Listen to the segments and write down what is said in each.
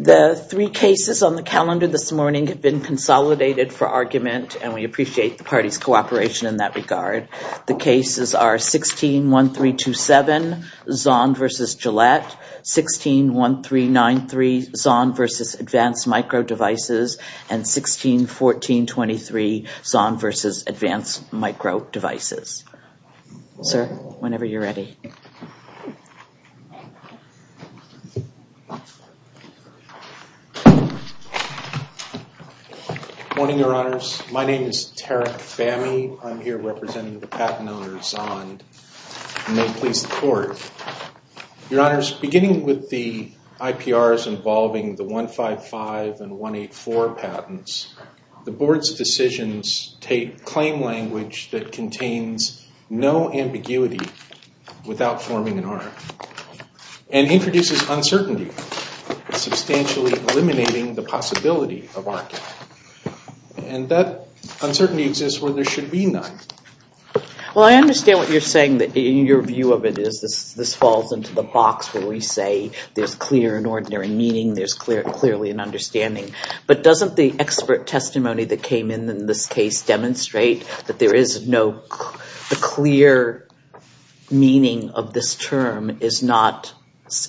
The three cases on the calendar this morning have been consolidated for argument and we appreciate the party's cooperation in that regard. The cases are 16-1327, Zond v. Gillette, 16-1393, Zond v. Advanced Micro Devices, and 16-1423, Zond v. Advanced Micro Devices. Sir, whenever you're ready. Good morning, Your Honors. My name is Tarek Fahmy. I'm here representing the patent owner, Zond, and may it please the Court. Your Honors, beginning with the IPRs involving the 155 and 184 patents, the Board's decisions take claim language that contains no ambiguity without forming an arm and introduces uncertainty, substantially eliminating the possibility of argument. And that uncertainty exists where there should be none. Well, I understand what you're saying. Your view of it is this falls into the box where we say there's clear and ordinary meaning, there's clearly an understanding. But doesn't the expert testimony that came in in this case demonstrate that there is no clear meaning of this term is not,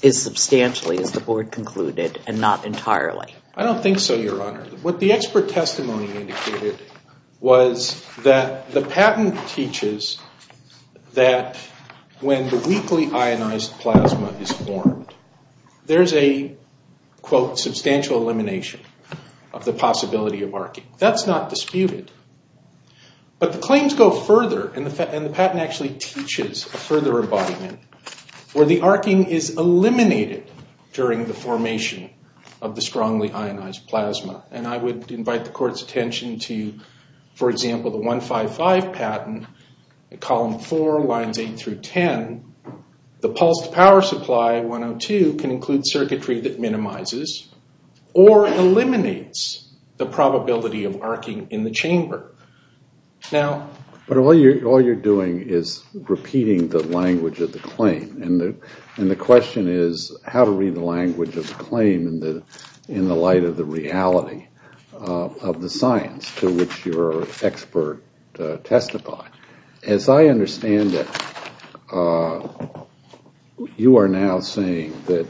is substantially, as the Board concluded, and not entirely? I don't think so, Your Honor. What the expert testimony indicated was that the patent teaches that when the weakly ionized plasma is formed, there's a, quote, substantial elimination of the possibility of arcing. That's not disputed. But the claims go further, and the patent actually teaches a further embodiment where the arcing is eliminated during the formation of the strongly ionized plasma. And I would invite the Court's attention to, for example, the 155 patent, column 4, lines 8 through 10, the pulsed power supply, 102, can include circuitry that minimizes or eliminates the probability of arcing in the chamber. But all you're doing is repeating the language of the claim, and the question is how to read the language of the claim in the light of the reality of the science to which your expert testified. As I understand it, you are now saying that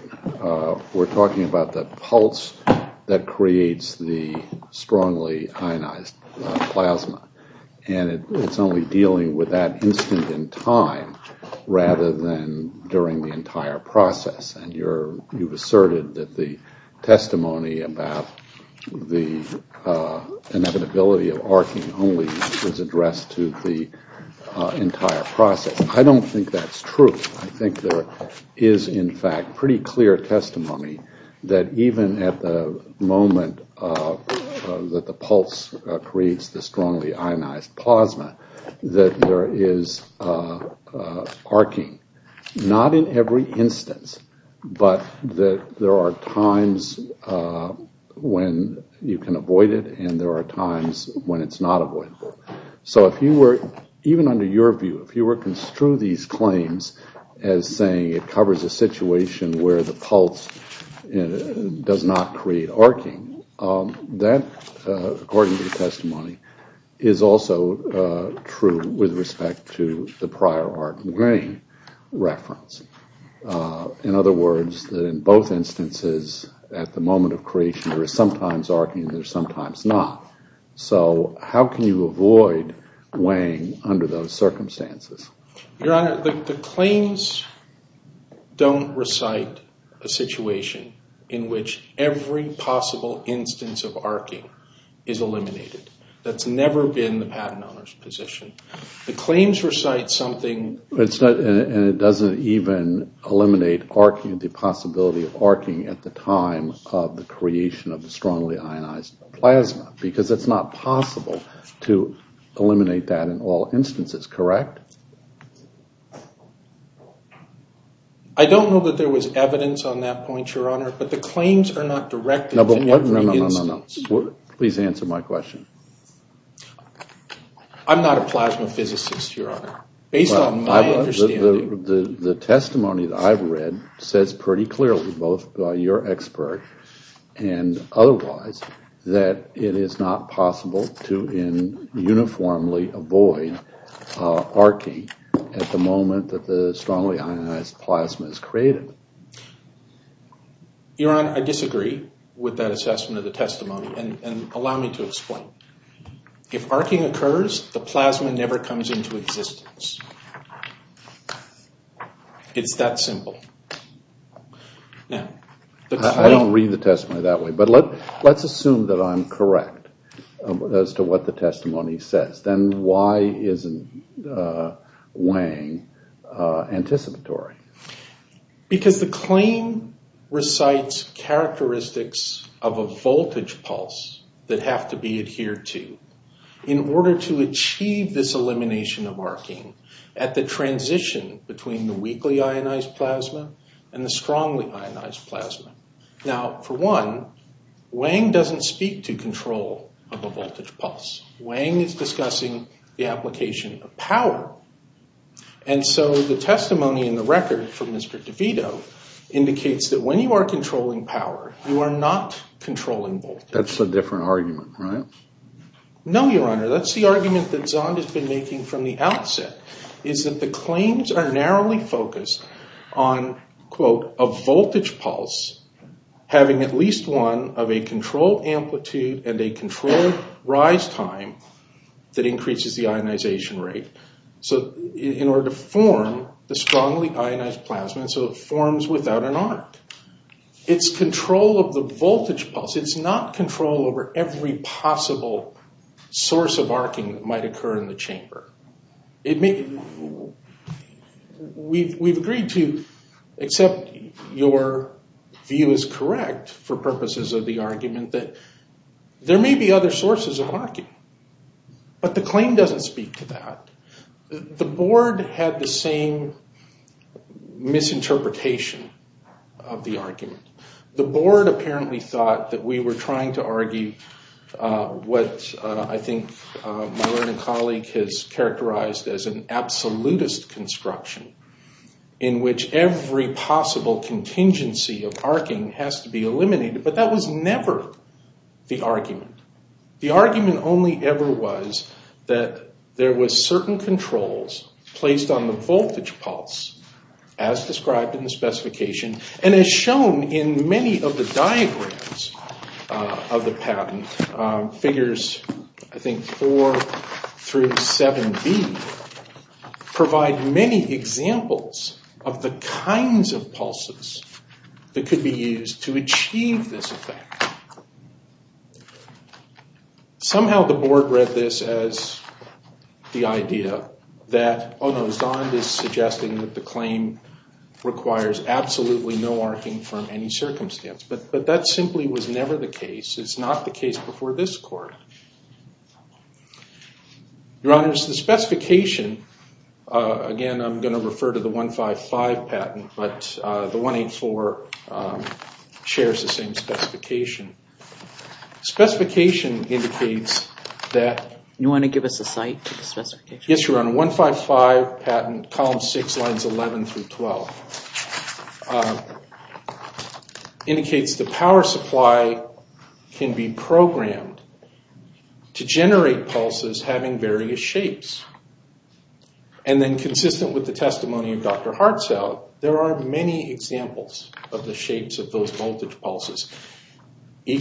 we're talking about the pulse that creates the strongly ionized plasma, and it's only dealing with that instant in time rather than during the entire process. And you've asserted that the testimony about the inevitability of arcing only is addressed to the entire process. I don't think that's true. I think there is, in fact, pretty clear testimony that even at the moment that the pulse creates the strongly ionized plasma, that there is arcing, not in every instance, but that there are times when you can avoid it and there are times when it's not avoidable. So if you were, even under your view, if you were to construe these claims as saying it covers a situation where the pulse does not create arcing, that, according to the testimony, is also true with respect to the prior arcing reference. In other words, in both instances, at the moment of creation, there is sometimes arcing and there is sometimes not. So how can you avoid weighing under those circumstances? Your Honor, the claims don't recite a situation in which every possible instance of arcing is eliminated. That's never been the patent owner's position. The claims recite something... And it doesn't even eliminate the possibility of arcing at the time of the creation of the strongly ionized plasma, because it's not possible to eliminate that in all instances, correct? I don't know that there was evidence on that point, Your Honor, but the claims are not directed to every instance. No, no, no, no, no, no, no, no. Please answer my question. I'm not a plasma physicist, Your Honor. Based on my understanding... The testimony that I've read says pretty clearly, both by your expert and otherwise, that it is not possible to uniformly avoid arcing at the moment that the strongly ionized plasma is created. Your Honor, I disagree with that assessment of the testimony, and allow me to explain. If arcing occurs, the plasma never comes into existence. It's that simple. Now, I don't read the testimony that way, but let's assume that I'm correct as to what the testimony says. Then why isn't Wang anticipatory? Because the claim recites characteristics of a voltage pulse that have to be adhered to in order to achieve this elimination of arcing at the transition between the weakly ionized plasma and the strongly ionized plasma. Now, for one, Wang doesn't speak to control of a voltage pulse. Wang is discussing the application of power, and so the testimony in the record from Mr. DeVito indicates that when you are controlling power, you are not controlling voltage. That's a different argument, right? No, Your Honor. That's the argument that Zond has been making from the outset, is that the claims are narrowly focused on, quote, a voltage pulse having at least one of a controlled amplitude and a controlled rise time that increases the ionization rate in order to form the strongly ionized plasma, and so it forms without an arc. It's control of the voltage pulse. It's not control over every possible source of arcing that might occur in the chamber. We've agreed to, except your view is correct for purposes of the argument, that there may be other sources of arcing, but the claim doesn't speak to that. The board had the same misinterpretation of the argument. The board apparently thought that we were trying to argue what I think my learning colleague has characterized as an absolutist construction in which every possible contingency of arcing has to be eliminated, but that was never the argument. The argument only ever was that there was certain controls placed on the voltage pulse as described in the specification, and as shown in many of the diagrams of the patent, figures I think four through seven B provide many examples of the kinds of pulses that could be used to achieve this effect. Somehow the board read this as the idea that, oh no, Zond is suggesting that the claim requires absolutely no arcing from any circumstance, but that simply was never the case. It's not the case before this court. Your honors, the specification, again I'm going to refer to the specification. Specification indicates that... You want to give us a site for the specification? Yes, your honor. 155 patent column six lines 11 through 12 indicates the power supply can be programmed to generate pulses having various shapes, and then consistent with the testimony of Dr. Hartzell, there are many examples of the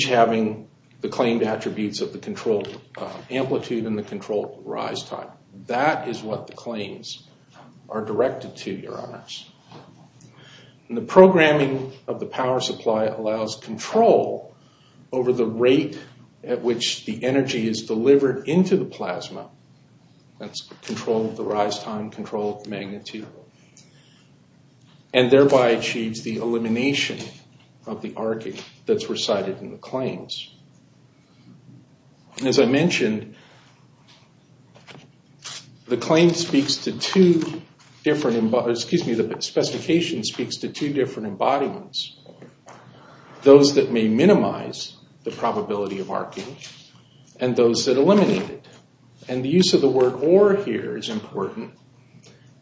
having the claimed attributes of the control amplitude and the control rise time. That is what the claims are directed to, your honors. The programming of the power supply allows control over the rate at which the energy is delivered into the plasma, that's control of the rise time, control of the magnitude, and thereby achieves the elimination of the arcing that's recited in the claims. As I mentioned, the claim speaks to two different... Excuse me, the specification speaks to two different embodiments. Those that may minimize the probability of arcing, and those that eliminate it. The use of the word or here is important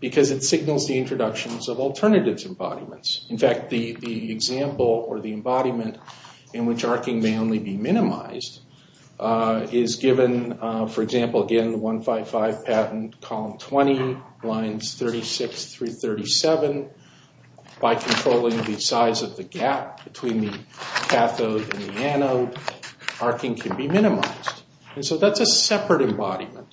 because it signals the introductions of alternative embodiments. In fact, the example or the embodiment in which arcing may only be minimized is given, for example, again 155 patent column 20 lines 36 through 37. By controlling the size of the gap between the cathode and the anode, arcing can be minimized, and so that's a separate embodiment.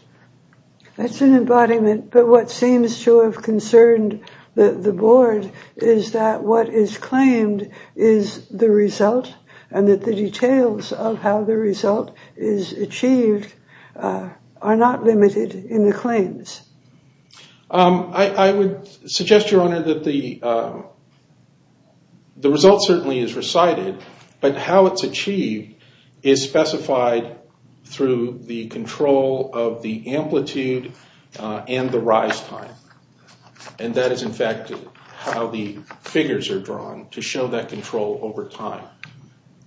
That's an embodiment, but what seems to have concerned the board is that what is claimed is the result, and that the details of how the result is achieved are not limited in the claims. I would suggest, Your Honor, that the result certainly is recited, but how it's achieved is specified through the control of the amplitude and the rise time, and that is in fact how the figures are drawn to show that control over time,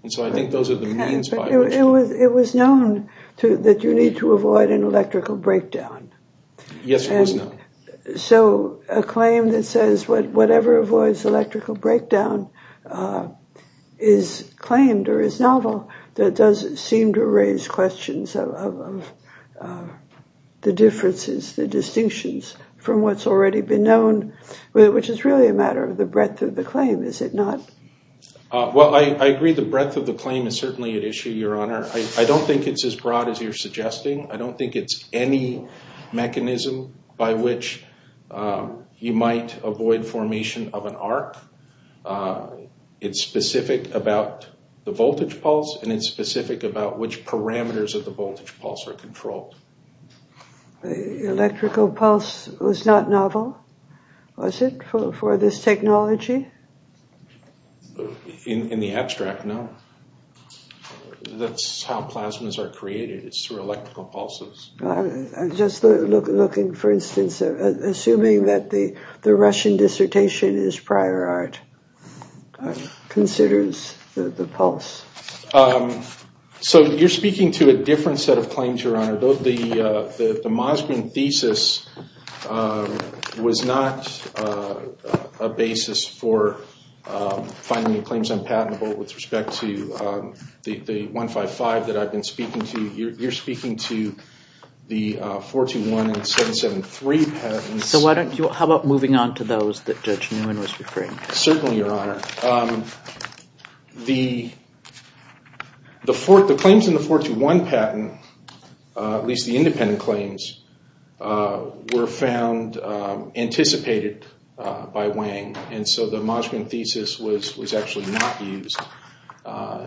and so I think those are the means by which... It was known that you need to avoid an electrical breakdown. Yes, it was known. So a claim that says whatever avoids electrical breakdown is claimed or is novel, that does seem to raise questions of the differences, the distinctions from what's already been known, which is really a matter of the breadth of the claim, is it not? Well, I agree the breadth of the claim is certainly at issue, Your Honor. I don't think it's as broad as you're suggesting. I don't think it's any mechanism by which you might avoid formation of an arc. It's specific about the voltage pulse, and it's specific about which parameters of the voltage pulse are controlled. Electrical pulse was not novel, was it, for this technology? In the abstract, no. That's how plasmas are created. It's through electrical pulses. I'm just looking, for instance, assuming that the Russian dissertation is prior art, considers the pulse. So you're speaking to a different set of claims, Your Honor. The Moskvin thesis was not a basis for finding the claims unpatentable with respect to the 155 that I've been speaking to. You're speaking to the 421 and 773 patents. How about moving on to those that Judge Newman was referring to? Certainly, Your Honor. The claims in the 421 patent, at least the independent claims, were found anticipated by Wang, and so the Moskvin thesis was actually not used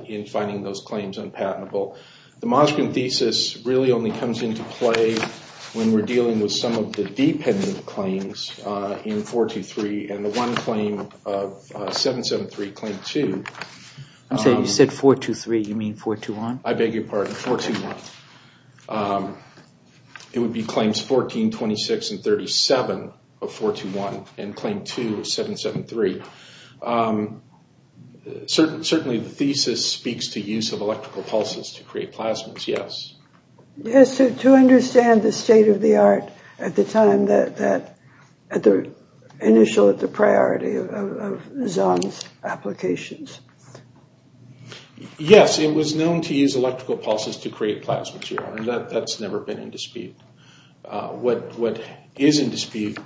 in finding those claims unpatentable. The Moskvin thesis really only comes into play when we're dealing with some of the dependent claims in 423 and the one claim of 773 claim 2. You said 423, you mean 421? I beg your pardon, 421. It would be claims 14, 26, and 37 of 421 and claim 2 of 773. Certainly, the thesis speaks to use of electrical pulses to create plasmas, yes. Yes, to understand the state-of-the-art at the time, the initial priority of Zong's applications. Yes, it was known to use electrical pulses to create plasmas, Your Honor. That's never been in dispute. What is in dispute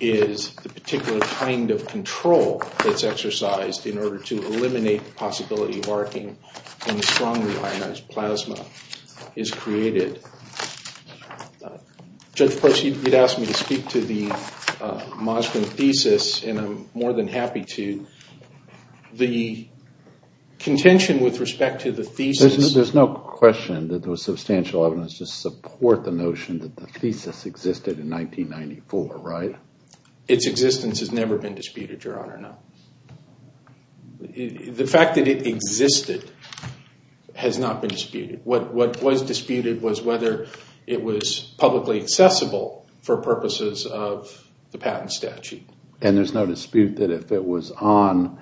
is the particular kind of control that's exercised in order to create it. Judge Price, you'd asked me to speak to the Moskvin thesis, and I'm more than happy to. The contention with respect to the thesis... There's no question that there was substantial evidence to support the notion that the thesis existed in 1994, right? Its existence has never been disputed, Your Honor, no. The fact that it existed has not been disputed. What was disputed was whether it was publicly accessible for purposes of the patent statute. And there's no dispute that if it was on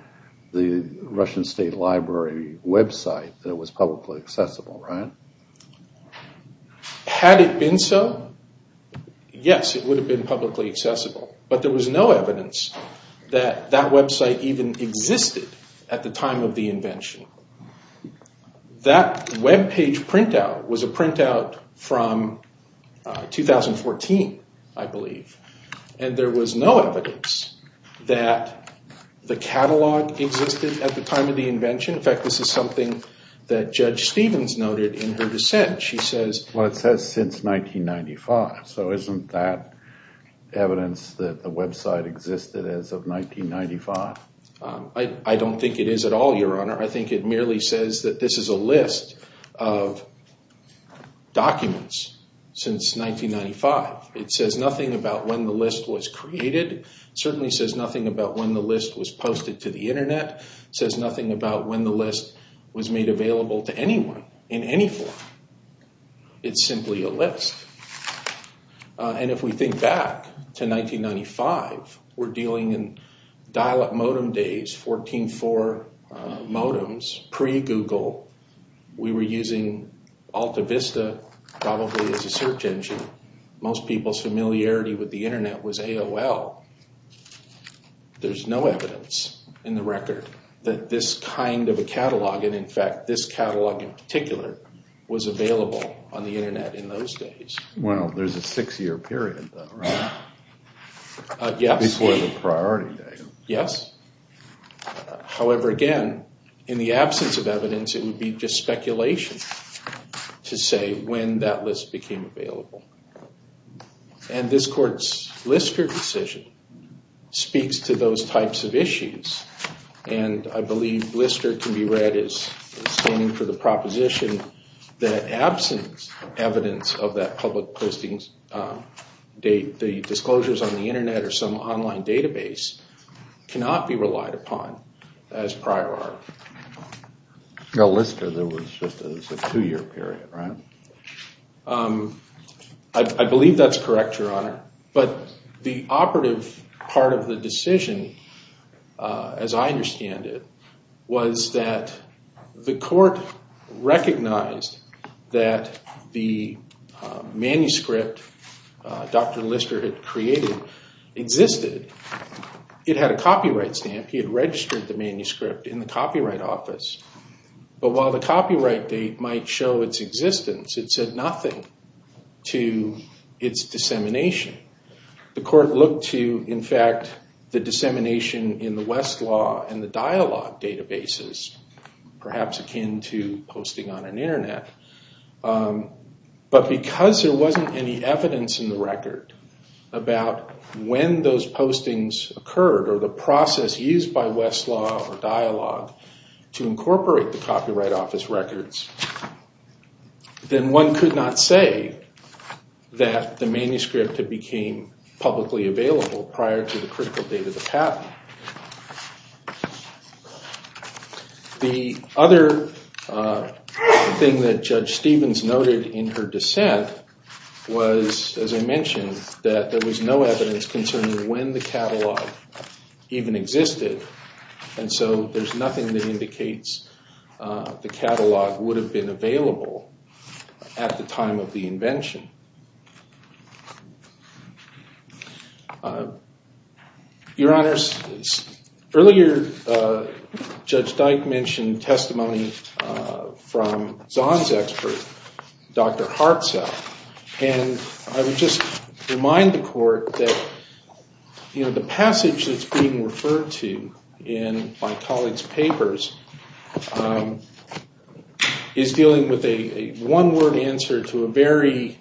the Russian State Library website that it was publicly accessible, right? Had it been so, yes, it would have been publicly accessible, but there was no evidence that that website even existed at the time of the invention. That web page printout was a printout from 2014, I believe, and there was no evidence that the catalog existed at the time of the invention. In fact, this is something that Judge Stevens noted in her dissent. She says... Well, it says since 1995, so isn't that evidence that the website existed as of 1995? I don't think it is at all, Your Honor. I think it merely says that this is a list of documents since 1995. It says nothing about when the list was created, certainly says nothing about when the list was posted to the internet, says nothing about when the list was made available to anyone in any form. It's simply a list. And if we think back to 1995, we're dealing in dial-up modem days, 14-4 modems, pre-Google. We were using AltaVista probably as a search engine. Most people's familiarity with the internet was AOL. There's no evidence in the record that this kind of a catalog, and in fact, this catalog in particular, was available on the internet in those days. Well, there's a six-year period, though, right? Before the priority date. Yes. However, again, in the absence of evidence, it would be just speculation to say when that list became available. And this Court's Lister decision speaks to those types of issues. And I believe Lister can be read as standing for the proposition that absence of evidence of that public listings date, the disclosures on the internet or some online database cannot be relied upon as prior art. Now, Lister, there was just a two-year period, right? I believe that's correct, Your Honor. But the operative part of the decision, as I understand it, was that the Court recognized that the manuscript Dr. Lister had created existed. It had a copyright stamp. He had registered the manuscript in the Copyright Office. But while the copyright date might show its existence, it said nothing to its dissemination. The Court looked to, in fact, the dissemination in the Westlaw and the Dialog databases, perhaps akin to posting on an internet. But because there wasn't any evidence in the record about when those postings occurred or the process used by Westlaw or Dialog to incorporate the Copyright Office records, then one could not say that the manuscript had became publicly available prior to the critical date of the patent. The other thing that Judge Stevens noted in her dissent was, as I mentioned, that there was no evidence concerning when the catalog even existed. And so there's nothing that indicates the catalog would have been available at the time of the invention. Your Honors, earlier, Judge Dyke mentioned testimony from Zahn's expert, Dr. Harpzell. And I would just remind the Court that the passage that's being referred to in my colleague's papers is dealing with a one-word answer to a very...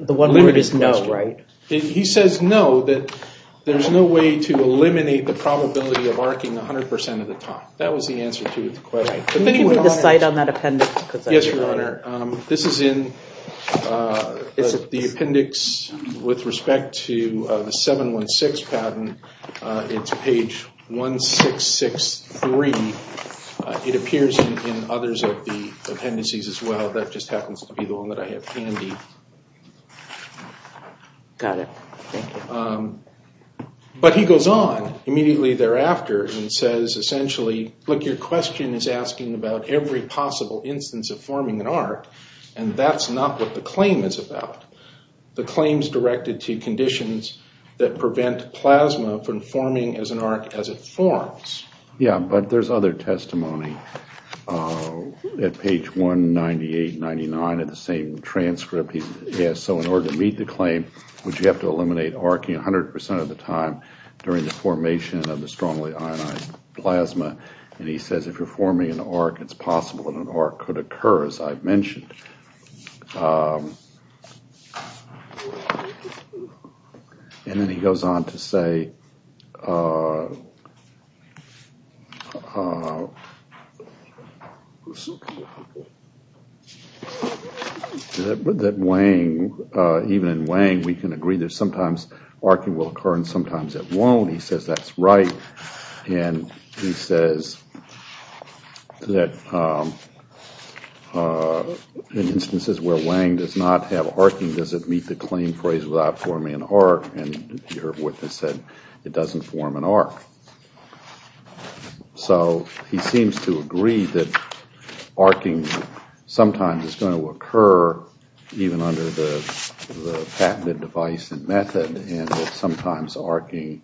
The one word is no, right? He says no, that there's no way to eliminate the probability of arcing 100% of the time. That was the answer to the question. Can you give me the site on that appendix? Yes, Your Honor. This is in the appendix with respect to the 716 patent. It's page 1663. It appears in others of the appendices as well. That just happens to be the one that I have handy. Got it. But he goes on immediately thereafter and says, essentially, look, your question is asking about every possible instance of forming an arc, and that's not what the claim is about. The claim's directed to conditions that prevent plasma from forming as an arc as it forms. Yeah, but there's other testimony at page 198, 99 of the same transcript. So in order to meet the claim, would you have to eliminate arcing 100% of the time during the formation of the strongly ionized plasma? And he says if you're forming an arc, it's possible that an arc could occur, as I've mentioned. And then he goes on to say that even in Wang, we can agree that sometimes arcing will occur and sometimes it won't. He says that's right. And he says that in instances where Wang does not have arcing, does it meet the claim phrase without forming an arc? And your witness said it doesn't form an arc. So he seems to agree that arcing sometimes is going to occur even under the patented device and method, and that sometimes arcing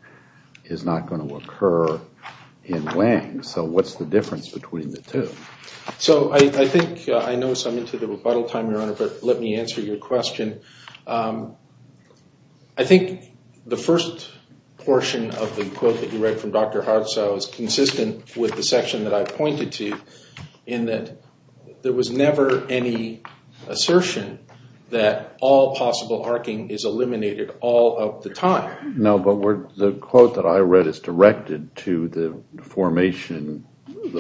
is not going to occur in Wang. So what's the difference between the two? So I think I know I'm into the rebuttal time, Your Honor, but let me answer your question. I think the first portion of the quote that you read from Dr. Hartzau is consistent with the section that I pointed to, in that there was never any assertion that all possible arcing is eliminated all of the time. No, but the quote that I read is directed to the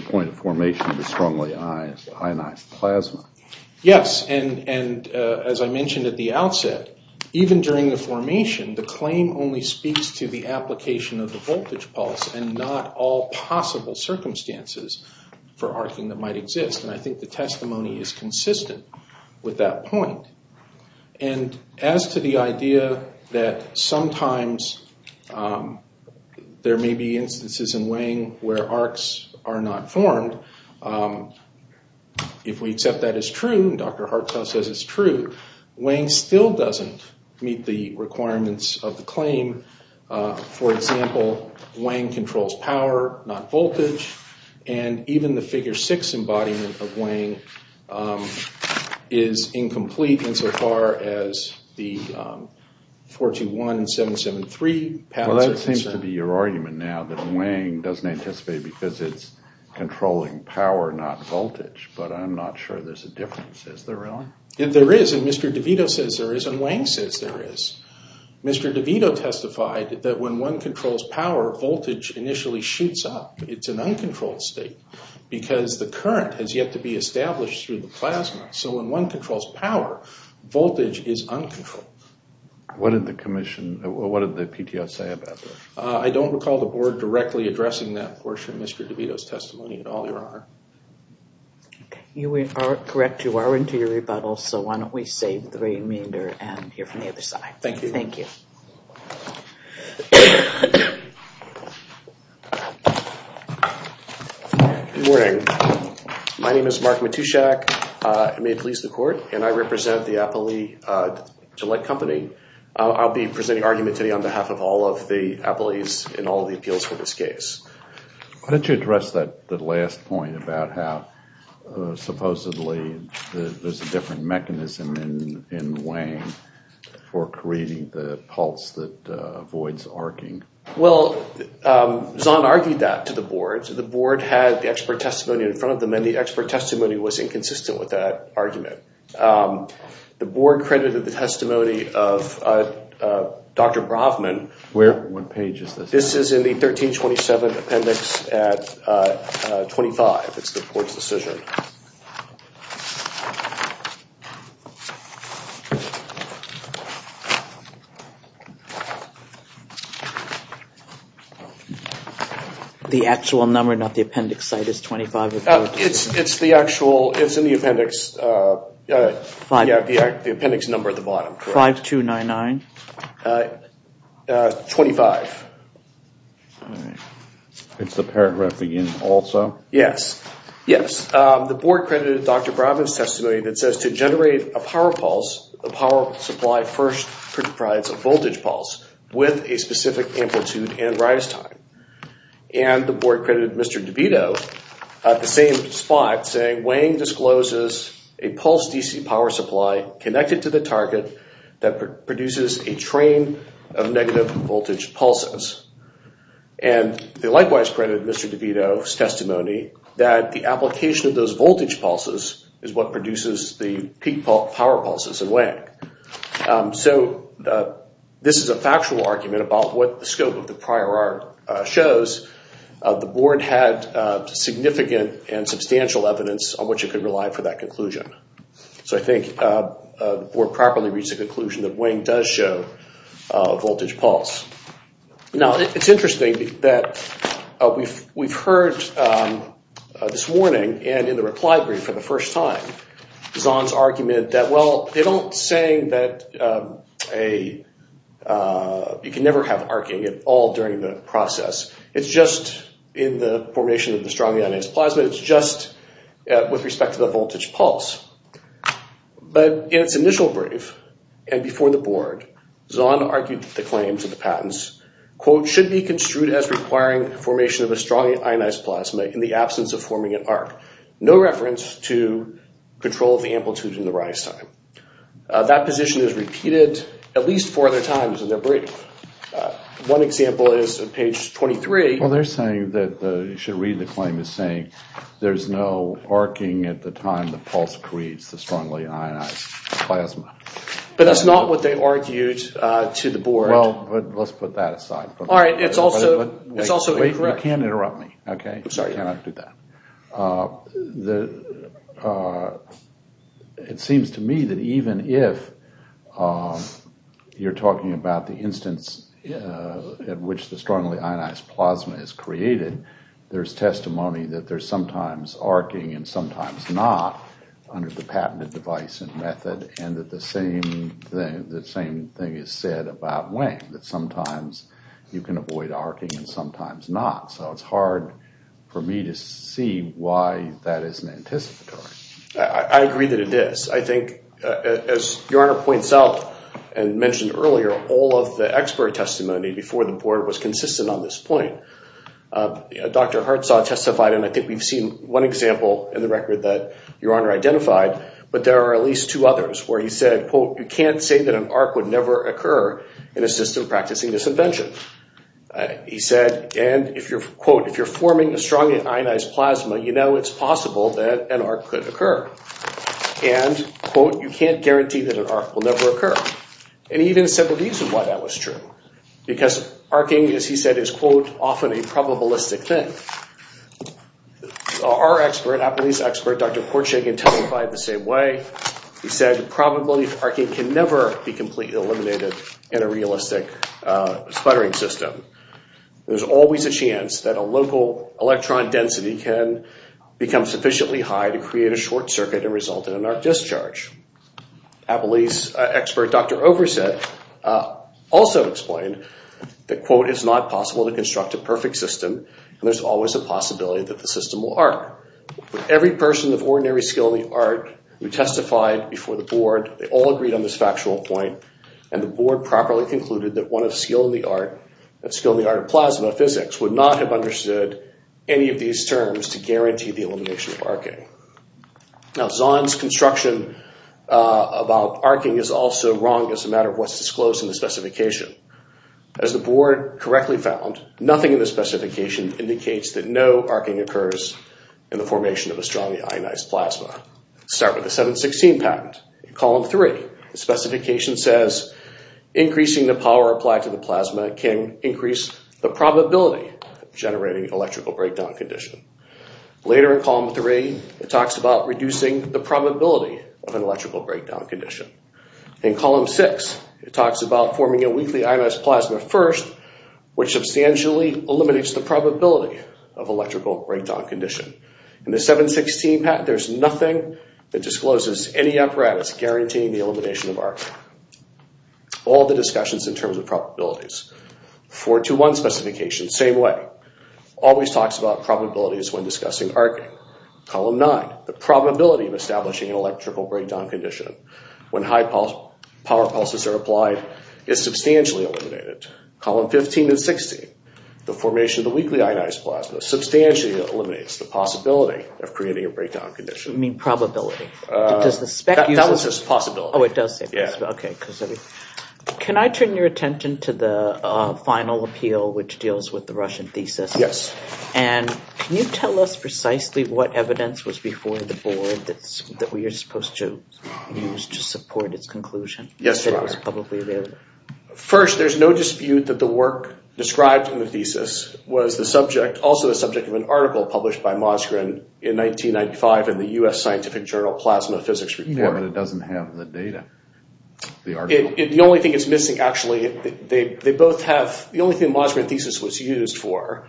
point of formation of the strongly ionized plasma. Yes, and as I mentioned at the outset, even during the formation, the claim only speaks to the application of the voltage pulse and not all possible circumstances for arcing that might exist. And I think the testimony is consistent with that point. And as to the idea that sometimes there may be instances in Wang where arcs are not formed, if we accept that as true, and Dr. Hartzau says it's true, Wang still doesn't meet the requirements of the claim. For example, Wang controls power, not voltage, and even the figure 6 embodiment of Wang is incomplete insofar as the 421 and 773 patterns are concerned. Well, that seems to be your argument now, that Wang doesn't anticipate because it's controlling power, not voltage. But I'm not sure there's a difference, is there really? There is, and Mr. DeVito says there is, and Wang says there is. Mr. DeVito testified that when one controls power, voltage initially shoots up. It's an uncontrolled state because the current has yet to be established through the plasma. So when one controls power, voltage is uncontrolled. What did the commission, what did the PTO say about that? I don't recall the board directly addressing that portion of Mr. DeVito's testimony at all, Your Honor. You are correct, you are into your rebuttal, so why don't we save the remainder and hear from the other side. Thank you. Good morning. My name is Mark Matushak, it may please the court, and I represent the Appley Gillette Company. I'll be presenting argument today on behalf of all of the Appley's in all of the appeals for this case. Why don't you address that last point about how supposedly there's a different mechanism in Wang for creating the pulse that avoids arcing? Well, Zahn argued that to the board. The board had the expert testimony in front of them, and the expert testimony was inconsistent with that argument. The board credited the testimony of Dr. Bravman. Where, what page is this? This is in the 1327 appendix at 25. It's the board's decision. Okay. The actual number, not the appendix site, is 25? It's the actual, it's in the appendix, the appendix number at the bottom. 5 2 9 9? 25. It's the paragraph beginning also? Yes, yes. The board credited Dr. Bravman's testimony that says to generate a power pulse power supply first comprise of voltage pulse with a specific amplitude and rise time. And the board credited Mr. DeVito at the same spot saying, Wang discloses a pulse DC power supply connected to the target that produces a train of negative voltage pulses. And they likewise credited Mr. DeVito's testimony that the application of those voltage pulses is what produces the peak power pulses in Wang. So this is a factual argument about what the scope of the prior art shows. The board had significant and substantial evidence on which it could rely for that conclusion. So I think the board properly reached the conclusion that Wang does show a voltage pulse. Now, it's interesting that we've heard this warning and in the reply brief for the first time, Zahn's argument that, well, they don't say that a, you can never have arcing at all during the process. It's just in the formation of the strongly ionized plasma. It's just with respect to the voltage pulse. But in its initial brief and before the board, Zahn argued the claims of the patents, should be construed as requiring formation of a strongly ionized plasma in the absence of forming an arc. No reference to control of the amplitude and the rise time. That position is repeated at least four other times in their brief. One example is on page 23. Well, they're saying that, you should read the claim, there's no arcing at the time the pulse creates the strongly ionized plasma. But that's not what they argued to the board. Well, but let's put that aside. All right, it's also, it's also incorrect. You can't interrupt me, okay? It seems to me that even if you're talking about the instance at which the strongly ionized plasma is created, there's testimony that there's sometimes arcing and sometimes not under the patented device and method. And that the same thing, the same thing is said about Wang. That sometimes you can avoid arcing and sometimes not. So it's hard for me to see why that isn't anticipatory. I agree that it is. I think as your Honor points out and mentioned earlier, all of the expert testimony before the board was consistent on this point. Dr. Hartsaw testified, and I think we've seen one example in the record that your Honor identified. But there are at least two others where he said, quote, you can't say that an arc would never occur in a system practicing this invention. He said, and if you're, quote, if you're forming a strongly ionized plasma, you know it's possible that an arc could occur. And, quote, you can't guarantee that an arc will never occur. And he even said the reason why that was true. Because arcing, as he said, is, quote, often a probabilistic thing. Our expert, Appellee's expert, Dr. Portshagen testified the same way. He said, probability of arcing can never be completely eliminated in a realistic sputtering system. There's always a chance that a local electron density can become sufficiently high to create a short circuit and result in an arc discharge. Appellee's expert, Dr. Overset, also explained that, quote, it's not possible to construct a perfect system. And there's always a possibility that the system will arc. But every person of ordinary skill in the art who testified before the board, they all agreed on this factual point. And the board properly concluded that one of skill in the art, that skill in the art of plasma physics, would not have understood any of these terms to guarantee the elimination of arcing. Now, Zahn's construction about arcing is also wrong as a matter of what's disclosed in the specification. As the board correctly found, nothing in the specification indicates that no arcing occurs in the formation of a strongly ionized plasma. Start with the 716 patent. In column three, the specification says, increasing the power applied to the plasma can increase the probability of generating electrical breakdown condition. Later in column three, it talks about reducing the probability of an electrical breakdown condition. In column six, it talks about forming a weakly ionized plasma first, which substantially eliminates the probability of electrical breakdown condition. In the 716 patent, there's nothing that discloses any apparatus guaranteeing the elimination of arcing. All the discussions in terms of probabilities. 421 specification, same way, always talks about probabilities when discussing arcing. Column nine, the probability of establishing an electrical breakdown condition when high power pulses are applied is substantially eliminated. Column 15 and 16, the formation of the weakly ionized plasma substantially eliminates the possibility of creating a breakdown condition. You mean probability. That was just possibility. Oh, it does say possibility. Okay. Can I turn your attention to the final appeal, which deals with the Russian thesis? Yes. And can you tell us precisely what evidence was before the board that we are supposed to use to support its conclusion? Yes. First, there's no dispute that the work described in the thesis was also the subject of an article published by Mosgren in 1995 in the U.S. Scientific Journal Plasma Physics Report. Yeah, but it doesn't have the data. The only thing that's missing actually, the only thing Mosgren's thesis was used for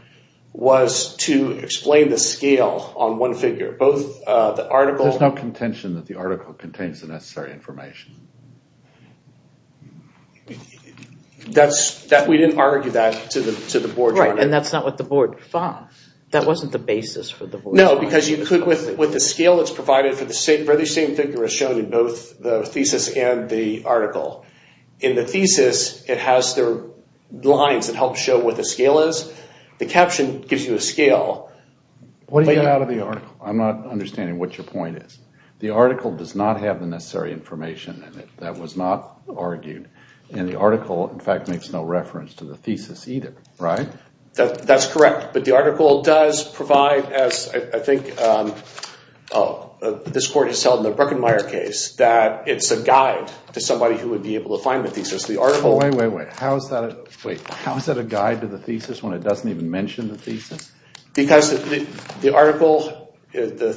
was to explain the scale on one figure. There's no contention that the article contains the necessary information. We didn't argue that to the board. Right, and that's not what the board found. That wasn't the basis for the board. No, because with the scale that's provided for the very same figure is shown in both the thesis and the article. In the thesis, it has their lines that help show what the scale is. The caption gives you a scale. What do you get out of the article? I'm not understanding what your point is. The article does not have the necessary information in it. That was not argued. And the article, in fact, makes no reference to the thesis either, right? That's correct. But the article does provide, as I think oh, this court has held in the Bruckenmaier case, that it's a guide to somebody who would be able to find the thesis. The article... Wait, wait, wait. How is that a guide to the thesis when it doesn't even mention the thesis? Because the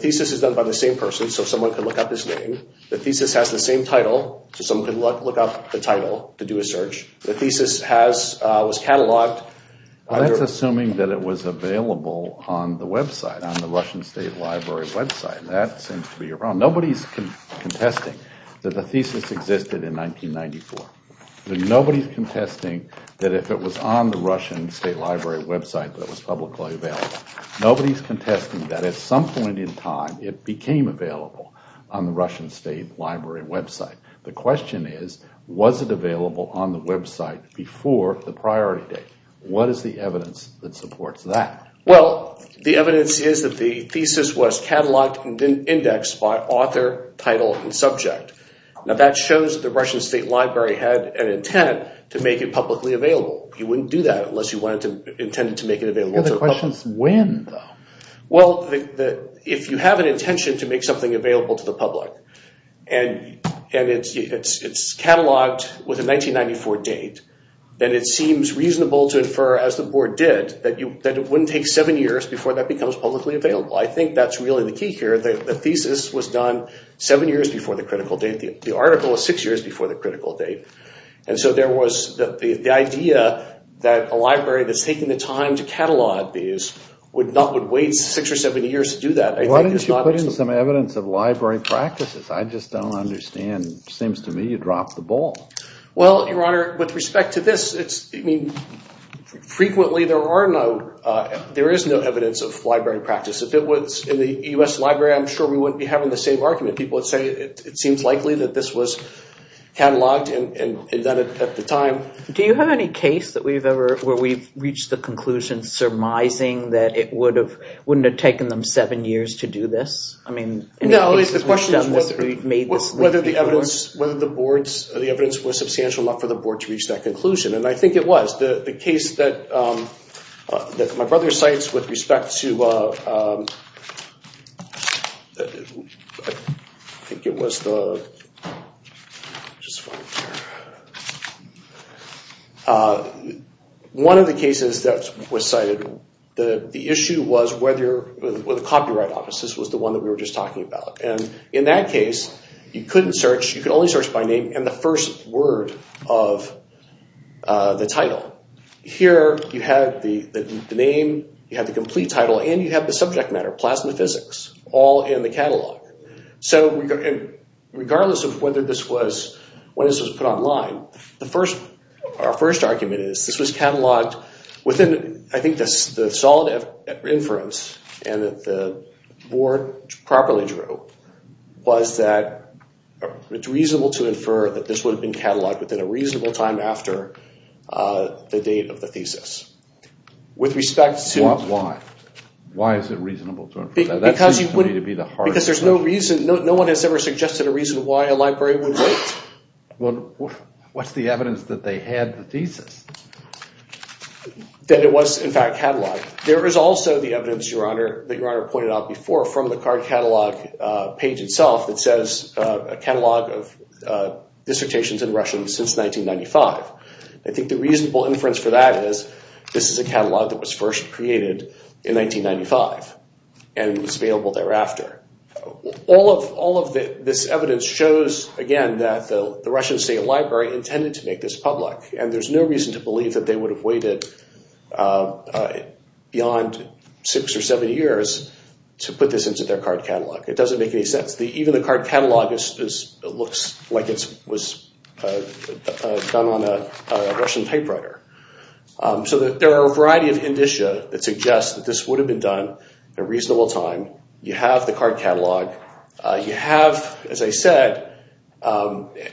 thesis is done by the same person, so someone could look up his name. The thesis has the same title, so someone could look up the title to do a search. The thesis was cataloged... That's assuming that it was available on the website, on the Russian State Library website. That seems to be your problem. Nobody's contesting that the thesis existed in 1994. Nobody's contesting that if it was on the Russian State Library website, that it was publicly available. Nobody's contesting that at some point in time, it became available on the Russian State Library website. The question is, was it available on the website before the priority date? What is the evidence that supports that? Well, the evidence is that the thesis was cataloged and then indexed by author, title, and subject. Now, that shows that the Russian State Library had an intent to make it publicly available. You wouldn't do that unless you wanted to... intended to make it available to the public. The question's when, though. Well, if you have an intention to make something available to the public, and it's cataloged with a 1994 date, then it seems reasonable to infer, as the board did, that it wouldn't take seven years before that becomes publicly available. I think that's really the key here. The thesis was done seven years before the critical date. The article was six years before the critical date. And so there was the idea that a library that's taking the time to catalog these would wait six or seven years to do that. Why didn't you put in some evidence of library practices? I just don't understand. Seems to me you dropped the ball. Well, Your Honor, with respect to this, frequently there is no evidence of library practice. If it was in the U.S. Library, I'm sure we wouldn't be having the same argument. People would say it seems likely that this was cataloged and done at the time. Do you have any case that we've ever... where we've reached the conclusion, surmising, that it wouldn't have taken them seven years to do this? No, at least the question is whether the evidence was substantial enough for the board to reach that conclusion. And I think it was. The case that my brother cites with respect to... One of the cases that was cited, the issue was whether the copyright office, this was the one that we were just talking about. And in that case, you couldn't search. You could only search by name and the first word of the title. Here you have the name, you have the complete title, and you have the subject matter, plasma physics, all in the catalog. So regardless of whether this was... when this was put online, our first argument is this was cataloged within, I think the solid inference, and that the board properly drew, was that it's reasonable to infer that this would have been cataloged within a reasonable time after the date of the thesis. With respect to... Why? Why is it reasonable to infer? That seems to me to be the hardest... Because there's no reason, no one has ever suggested a reason What's the evidence that they had the thesis? That it was, in fact, cataloged. There is also the evidence, Your Honor, that Your Honor pointed out before from the card catalog page itself that says a catalog of dissertations in Russian since 1995. I think the reasonable inference for that is this is a catalog that was first created in 1995 and was available thereafter. All of this evidence shows, again, that the Russian State Library intended to make this public. And there's no reason to believe that they would have waited beyond six or seven years to put this into their card catalog. It doesn't make any sense. Even the card catalog looks like it was done on a Russian typewriter. So there are a variety of indicia that suggest that this would have been done at a reasonable time. You have the card catalog. You have, as I said, another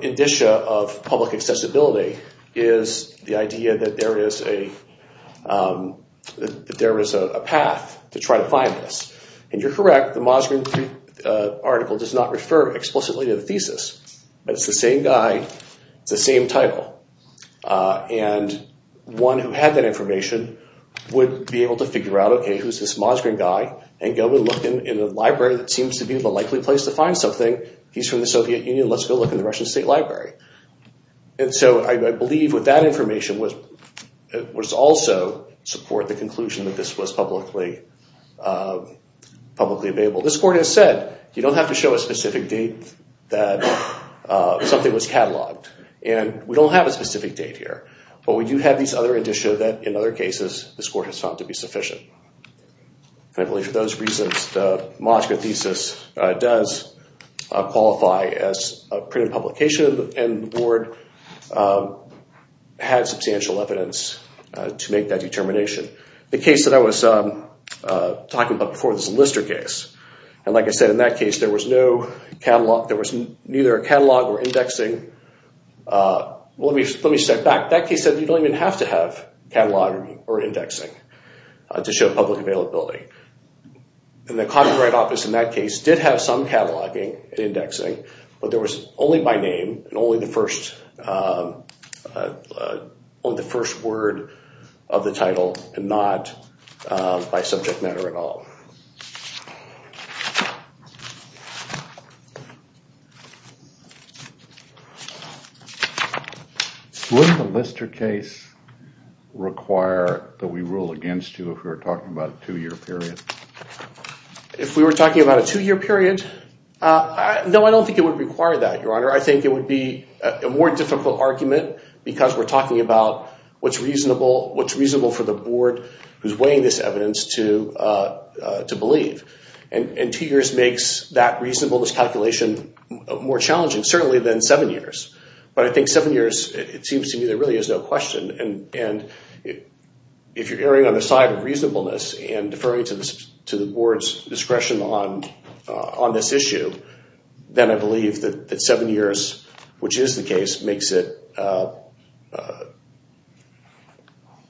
indicia of public accessibility is the idea that there is a path to try to find this. And you're correct. The Mosgrin article does not refer explicitly to the thesis. But it's the same guy, it's the same title. And one who had that information would be able to figure out, who's this Mosgrin guy? And go and look in the library that seems to be the likely place to find something. He's from the Soviet Union. Let's go look in the Russian State Library. And so I believe with that information would also support the conclusion that this was publicly available. This court has said, you don't have to show a specific date that something was cataloged. And we don't have a specific date here. But we do have these other indicia that, in other cases, this court has found to be sufficient. And I believe for those reasons, the Mosgrin thesis does qualify as a printed publication. And the board had substantial evidence to make that determination. The case that I was talking about before, this Lister case. And like I said, in that case, there was no catalog. There was neither a catalog or indexing. Let me step back. That case said you don't even have to have catalog or indexing to show public availability. And the Copyright Office in that case did have some cataloging and indexing. But there was only by name and only the first word of the title and not by subject matter at all. Would the Lister case require that we rule against you if we were talking about a two-year period? If we were talking about a two-year period? No, I don't think it would require that, Your Honor. I think it would be a more difficult argument because we're talking about what's reasonable for the board who's weighing this evidence to believe. And two years makes that reasonableness calculation more challenging, certainly, than seven years. But I think seven years, it seems to me, there really is no question. And if you're erring on the side of reasonableness and deferring to the board's discretion on this issue, then I believe that seven years, which is the case, makes it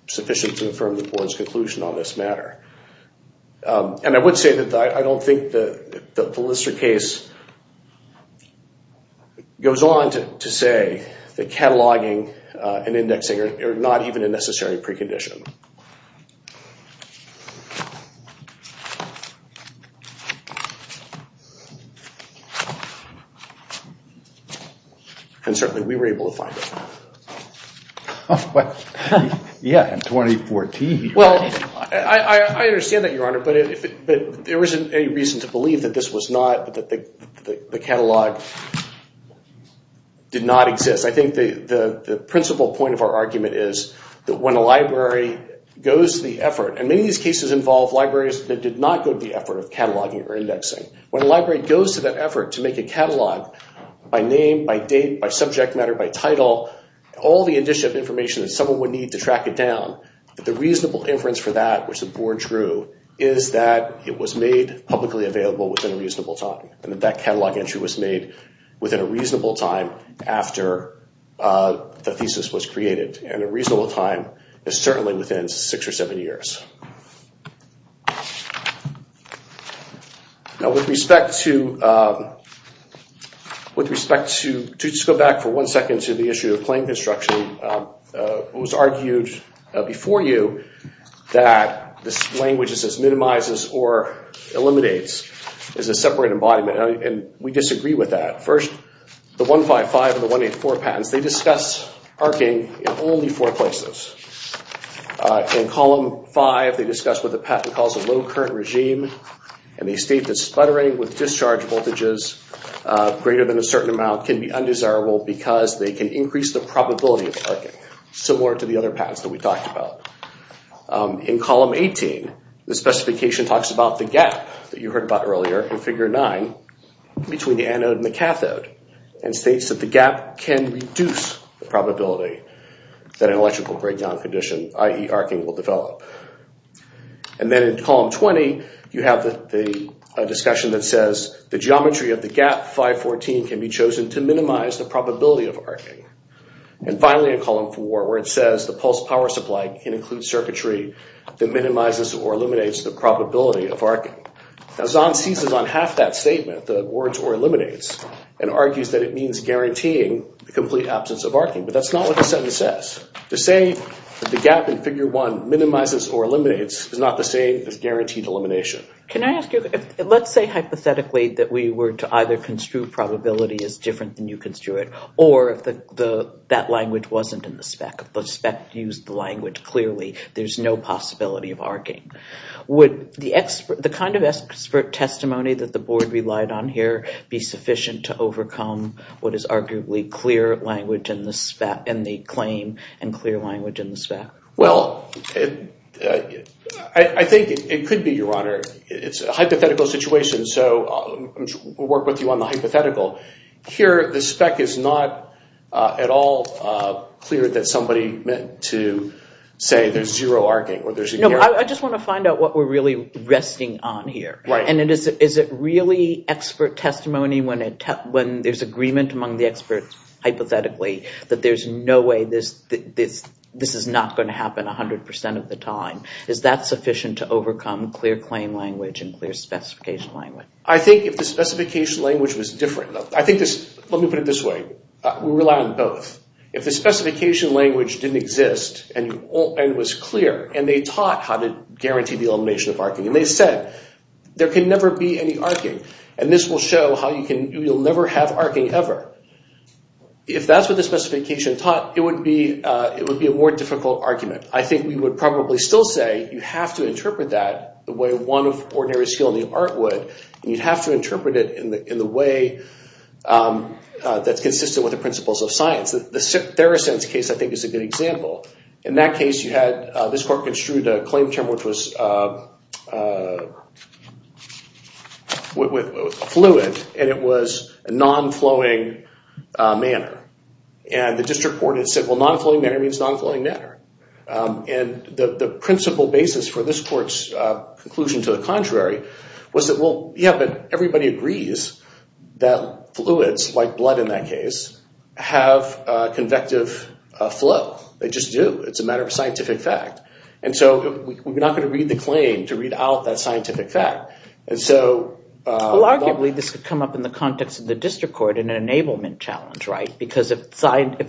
sufficient to affirm the board's conclusion on this matter. And I would say that I don't think the Lister case goes on to say that cataloging and indexing are not even a necessary precondition. And certainly, we were able to find it. Yeah, in 2014. Well, I understand that, Your Honor. But there isn't any reason to believe that this was not, that the catalog did not exist. I think the principal point of our argument is that when a library goes to the effort, and many of these cases involve libraries that did not go to the effort of cataloging or indexing. When a library goes to that effort to make a catalog by name, by date, by subject matter, by title, all the initial information that someone would need to track it down, that the reasonable inference for that, which the board drew, is that it was made publicly available within a reasonable time. And that catalog entry was made within a reasonable time after the thesis was created. And a reasonable time is certainly within six or seven years. Now, with respect to, with respect to, to just go back for one second to the issue of plain construction, it was argued before you that this language is as minimizes or eliminates as a separate embodiment. And we disagree with that. First, the 155 and the 184 patents, they discuss arcing in only four places. In column five, they discuss what the patent calls a low current regime. And they state that sputtering with discharge voltages greater than a certain amount can be undesirable because they can increase the probability of arcing, similar to the other patents that we talked about. In column 18, the specification talks about the gap that you heard about earlier in figure nine between the anode and the cathode, and states that the gap can reduce the probability that an electrical breakdown condition, i.e. arcing, will develop. And then in column 20, you have the discussion that says the geometry of the gap 514 can be chosen to minimize the probability of arcing. And finally, in column four, where it says the pulse power supply can include circuitry that minimizes or eliminates the probability of arcing. Now, Zahn seizes on half that statement, the words or eliminates, and argues that it means guaranteeing the complete absence of arcing. But that's not what the sentence says. To say that the gap in figure one minimizes or eliminates is not the same as guaranteed elimination. Can I ask you, let's say hypothetically that we were to either construe probability as different than you construe it, or if that language wasn't in the spec, the spec used the language clearly, there's no possibility of arcing. Would the kind of expert testimony that the board relied on here be sufficient to overcome what is arguably clear language in the claim and clear language in the spec? Well, I think it could be, Your Honor. It's a hypothetical situation. So we'll work with you on the hypothetical. Here, the spec is not at all clear that somebody meant to say there's zero arcing. I just want to find out what we're really resting on here. And is it really expert testimony when there's agreement among the experts hypothetically that there's no way this is not going to happen 100% of the time? Is that sufficient to overcome clear claim language and clear specification language? I think if the specification language was different, I think this, let me put it this way, we rely on both. If the specification language didn't exist and was clear, and they taught how to guarantee the elimination of arcing, and they said there can never be any arcing, and this will show how you can, you'll never have arcing ever. If that's what the specification taught, it would be a more difficult argument. I think we would probably still say you have to interpret that the way one of ordinary skill in the art would, and you'd have to interpret it in the way that's consistent with the principles of science. The Theracent's case, I think, is a good example. In that case, you had, this court construed a claim term, which was fluid, and it was non-flowing manner. And the district court had said, well, non-flowing manner means non-flowing manner. And the principle basis for this court's conclusion to the contrary was that, well, yeah, but everybody agrees that fluids, like blood in that case, have convective flow. They just do. It's a matter of scientific fact. And so we're not going to read the claim to read out that scientific fact. And so- Well, arguably, this could come up in the context of the district court in an enablement challenge, right? Because if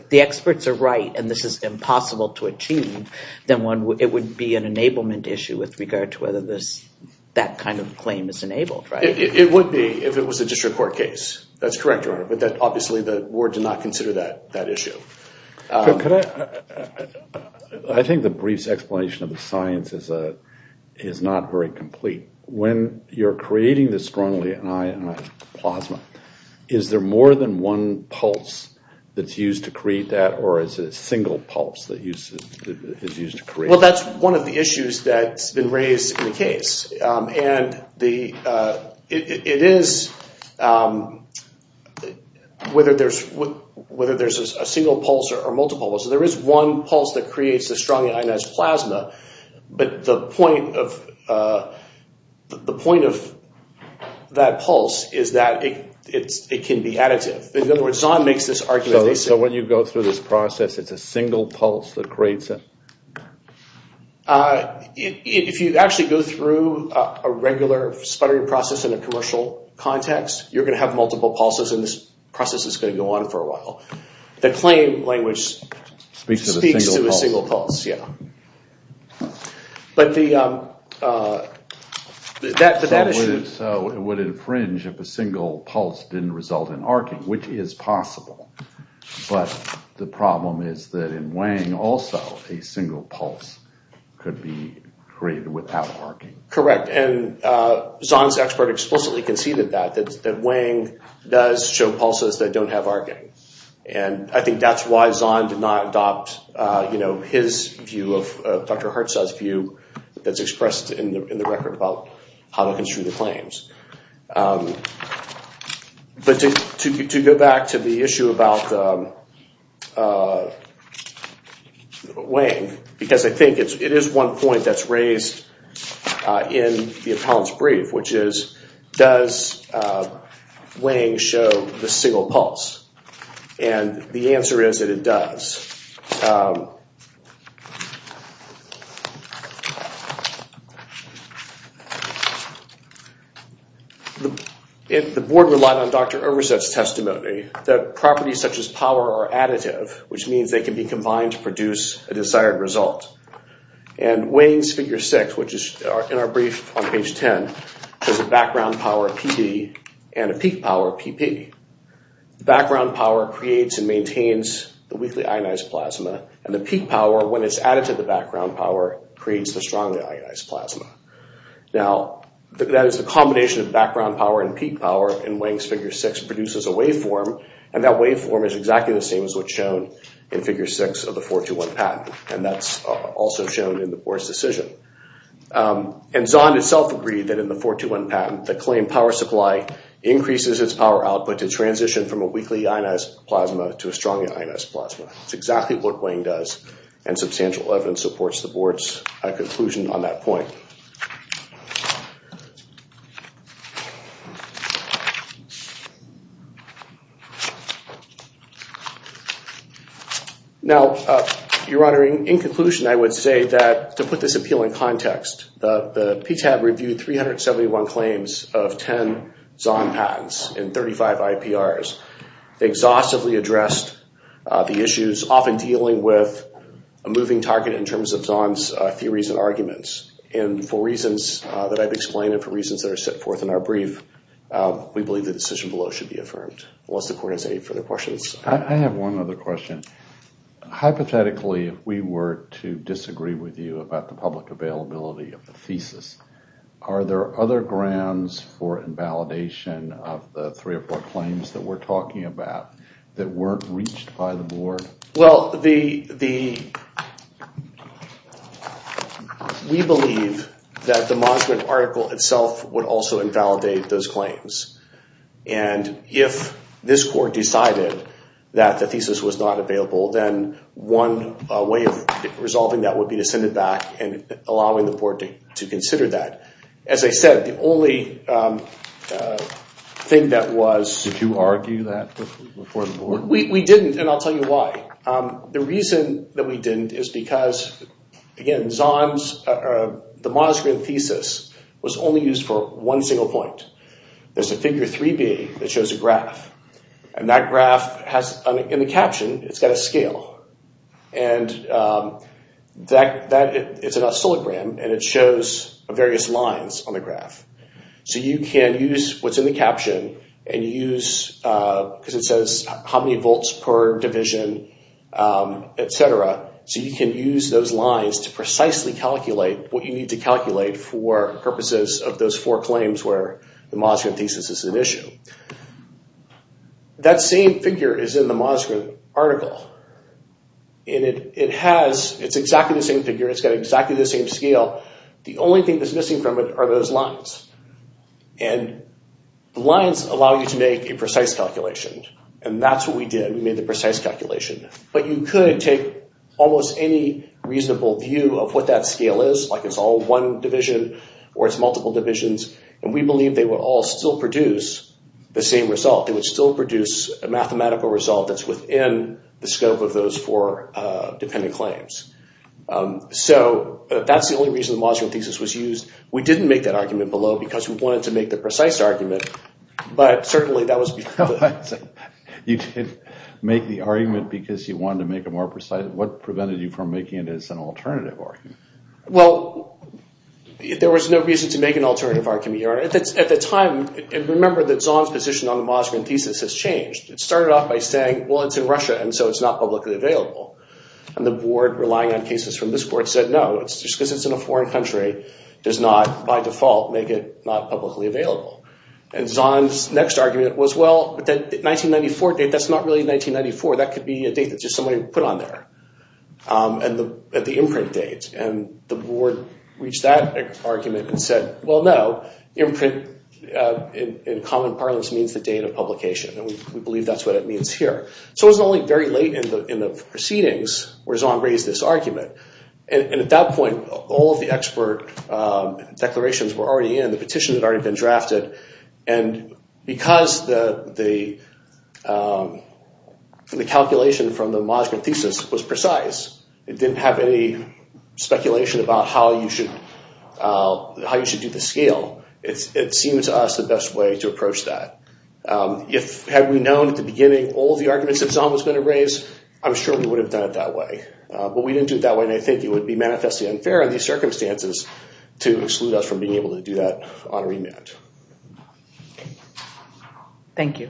the experts are right, and this is impossible to achieve, then it would be an enablement issue with regard to whether that kind of claim is enabled, right? It would be if it was a district court case. That's correct, Your Honor. But obviously, the board did not consider that issue. I think the brief explanation of the science is not very complete. When you're creating this strongly ionized plasma, is there more than one pulse that's used to create that? Or is it a single pulse that is used to create that? Well, that's one of the issues that's been raised in the case. And it is whether there's a single pulse or multiple pulses. There is one pulse that creates the strongly ionized plasma. But the point of that pulse is that it can be additive. In other words, Zahn makes this argument- So when you go through this process, it's a single pulse that creates it? If you actually go through a regular sputtering process in a commercial context, you're going to have multiple pulses, and this process is going to go on for a while. The claim language speaks to a single pulse, yeah. But that issue- So it would infringe if a single pulse didn't result in arcing, which is possible. But the problem is that in Wang, also a single pulse could be created without arcing. Correct. And Zahn's expert explicitly conceded that, that Wang does show pulses that don't have arcing. And I think that's why Zahn did not adopt his view of Dr. Hertz's view that's expressed in the record about how to construe the claims. But to go back to the issue about Wang, because I think it is one point that's raised in the appellant's brief, which is, does Wang show the single pulse? And the answer is that it does. The board relied on Dr. Overset's testimony that properties such as power are additive, which means they can be combined to produce a desired result. And Wang's Figure 6, which is in our brief on page 10, has a background power of PD and a peak power of PP. The background power creates and maintains the weakly ionized plasma, and the peak power, when it's added to the background power, creates the strongly ionized plasma. Now, that is the combination of background power and peak power in Wang's Figure 6 produces a waveform, and that waveform is exactly the same as what's shown in Figure 6 of the 421 patent, and that's also shown in the board's decision. And Zahn himself agreed that in the 421 patent, the claimed power supply increases its power output to transition from a weakly ionized plasma to a strongly ionized plasma. That's exactly what Wang does, and substantial evidence supports the board's conclusion on that point. Now, Your Honor, in conclusion, I would say that, to put this appeal in context, the PTAB reviewed 371 claims of 10 Zahn patents and 35 IPRs. They exhaustively addressed the issues, often dealing with a moving target in terms of Zahn's theories and arguments. And for reasons that I've explained we believe the decision below should be accepted. Unless the court has any further questions. I have one other question. Hypothetically, if we were to disagree with you about the public availability of the thesis, are there other grounds for invalidation of the three or four claims that we're talking about that weren't reached by the board? Well, we believe that the Monument article itself would also invalidate those claims. And if this court decided that the thesis was not available, then one way of resolving that would be to send it back and allowing the board to consider that. As I said, the only thing that was... Did you argue that before the board? We didn't, and I'll tell you why. The reason that we didn't is because, again, Zahn's, the Mossgren thesis, was only used for one single point. There's a figure 3B that shows a graph. And that graph has, in the caption, it's got a scale. And that, it's an oscillogram, and it shows various lines on the graph. So you can use what's in the caption and use, because it says how many volts per division, et cetera. So you can use those lines to precisely calculate what you need to calculate for purposes of those four claims where the Mossgren thesis is an issue. That same figure is in the Mossgren article. And it has, it's exactly the same figure. It's got exactly the same scale. The only thing that's missing from it are those lines. And the lines allow you to make a precise calculation. And that's what we did. We made the precise calculation. But you could take almost any reasonable view of what that scale is, like it's all one division, or it's multiple divisions. And we believe they would all still produce the same result. They would still produce a mathematical result that's within the scope of those four dependent claims. So that's the only reason the Mossgren thesis was used. We didn't make that argument below because we wanted to make the precise argument. But certainly, that was because of it. I see. You didn't make the argument because you wanted to make it more precise. What prevented you from making it as an alternative argument? Well, there was no reason to make an alternative argument, Your Honor. At the time, remember that Zahn's position on the Mossgren thesis has changed. It started off by saying, well, it's in Russia, and so it's not publicly available. And the board, relying on cases from this board, said no, just because it's in a foreign country does not, by default, make it not publicly available. And Zahn's next argument was, well, that 1994 date, that's not really 1994. That could be a date that just somebody put on there at the imprint date. And the board reached that argument and said, well, no. Imprint in common parlance means the date of publication. And we believe that's what it means here. So it was only very late in the proceedings where Zahn raised this argument. And at that point, all of the expert declarations were already in. The petitions had already been drafted. And because the calculation from the Mossgren thesis was precise, it didn't have any speculation about how you should do the scale. It seemed to us the best way to approach that. Had we known at the beginning all of the arguments that Zahn was going to raise, I'm sure we would have done it that way. But we didn't do it that way and I think it would be manifestly unfair in these circumstances to exclude us from being able to do that on remand. Thank you.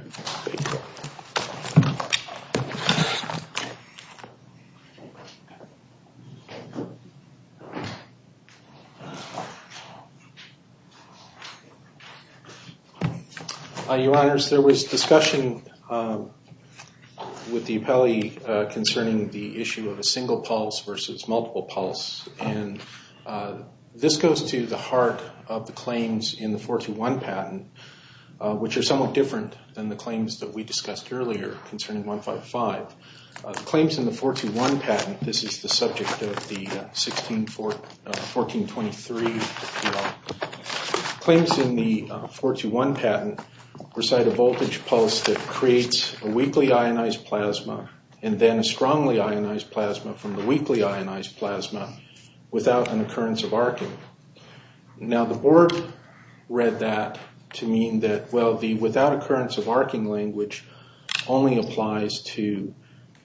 Hi, Your Honors. There was discussion with the appellee concerning the issue of a single pulse versus multiple pulse. And this goes to the heart of the claims in the 421 patent, which are somewhat different than the claims that we discussed earlier concerning 155. The claims in the 421 patent, this is the subject of the 1423, claims in the 421 patent recite a voltage pulse that creates a weakly ionized plasma and then a strongly ionized plasma from the weakly ionized plasma without an occurrence of arcing. Now the board read that to mean that, well, the without occurrence of arcing language only applies to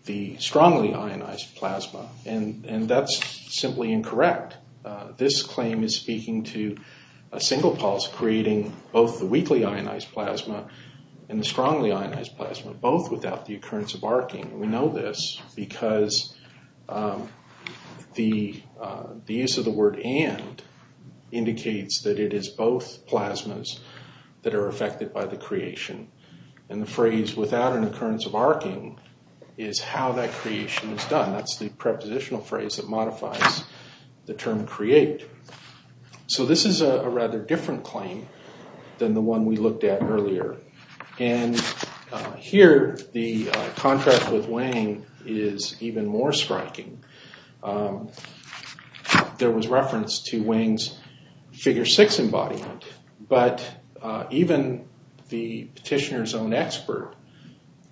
the strongly ionized plasma. And that's simply incorrect. This claim is speaking to a single pulse creating both the weakly ionized plasma and the strongly ionized plasma, both without the occurrence of arcing. We know this because the use of the word and indicates that it is both plasmas that are affected by the creation. And the phrase without an occurrence of arcing is how that creation is done. That's the prepositional phrase that modifies the term create. So this is a rather different claim than the one we looked at earlier. And here the contrast with Wang is even more striking. There was reference to Wang's figure six embodiment, but even the petitioner's own expert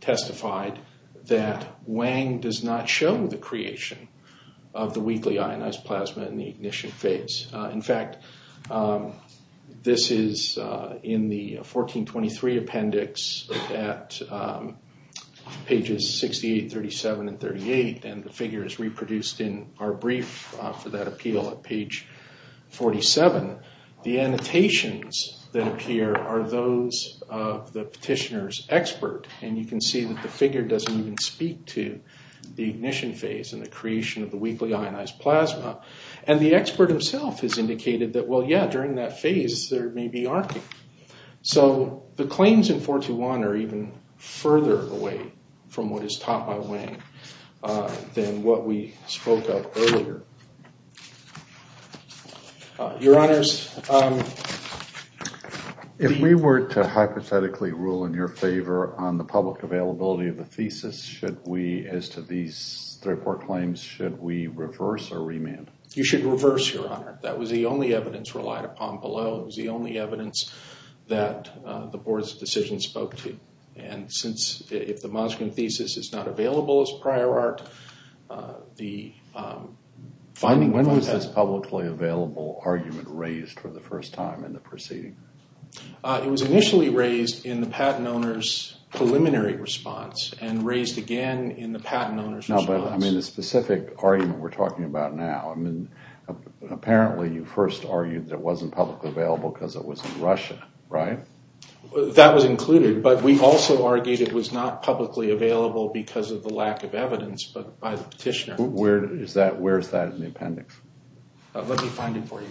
testified that Wang does not show the creation of the weakly ionized plasma in the ignition phase. In fact, this is in the 1423 appendix at pages 68, 37, and 38. And the figure is reproduced in our brief for that appeal at page 47. The annotations that appear are those of the petitioner's and you can see that the figure doesn't even speak to the ignition phase and the creation of the weakly ionized plasma. And the expert himself has indicated that, well, yeah, during that phase there may be arcing. So the claims in 421 are even further away from what is taught by Wang than what we spoke of earlier. Your honors. If we were to hypothetically rule in your favor on the public availability of the thesis, should we, as to these three report claims, should we reverse or remand? You should reverse, your honor. That was the only evidence relied upon below. It was the only evidence that the board's decision spoke to. And since if the Moskvin thesis is not available as prior art, the finding... When was this publicly available argument raised for the first time in the proceeding? It was initially raised in the patent owner's preliminary response and raised again in the patent owner's response. I mean, the specific argument we're talking about now, I mean, apparently you first argued that it wasn't publicly available because it was in Russia, right? That was included, but we also argued it was not publicly available because of the lack of evidence, but by the petitioner. Where is that in the appendix? Let me find it for you.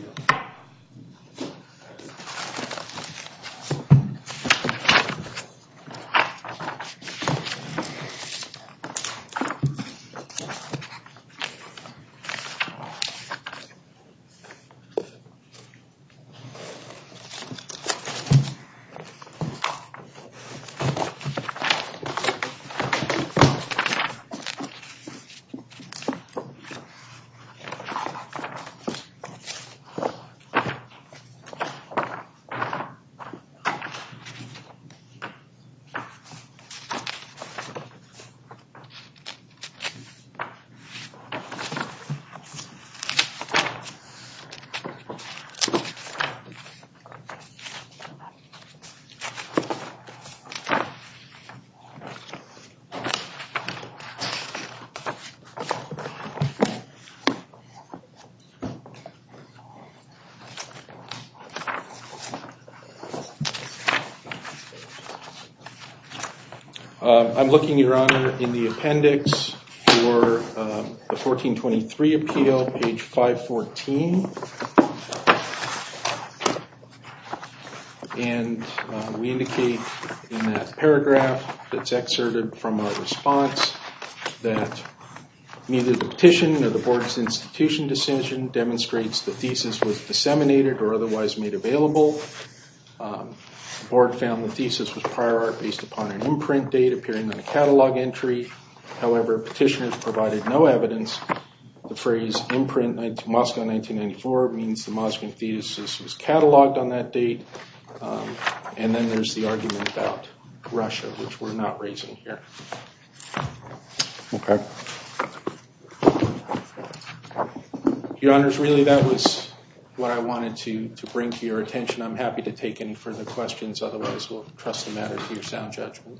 I'm looking, your honor, in the appendix for the 1423 appeal, page 514. And we indicate in that paragraph that's exerted from our response that neither the petition nor the board's institution decision demonstrates the thesis was disseminated or otherwise made available. The board found the thesis was prior art based upon an imprint date appearing on a catalog entry. However, petitioners provided no evidence. The phrase imprint Moscow 1994 means the Moscow thesis was cataloged on that date. And then there's the argument about Russia, which we're not raising here. Your honors, really, that was what I wanted to bring to your attention. I'm happy to take any further questions. Otherwise, we'll trust the matter to your sound judgment.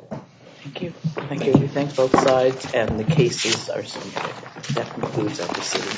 Thank you. Thank you. We thank both sides and the cases are submitted. That concludes our proceedings.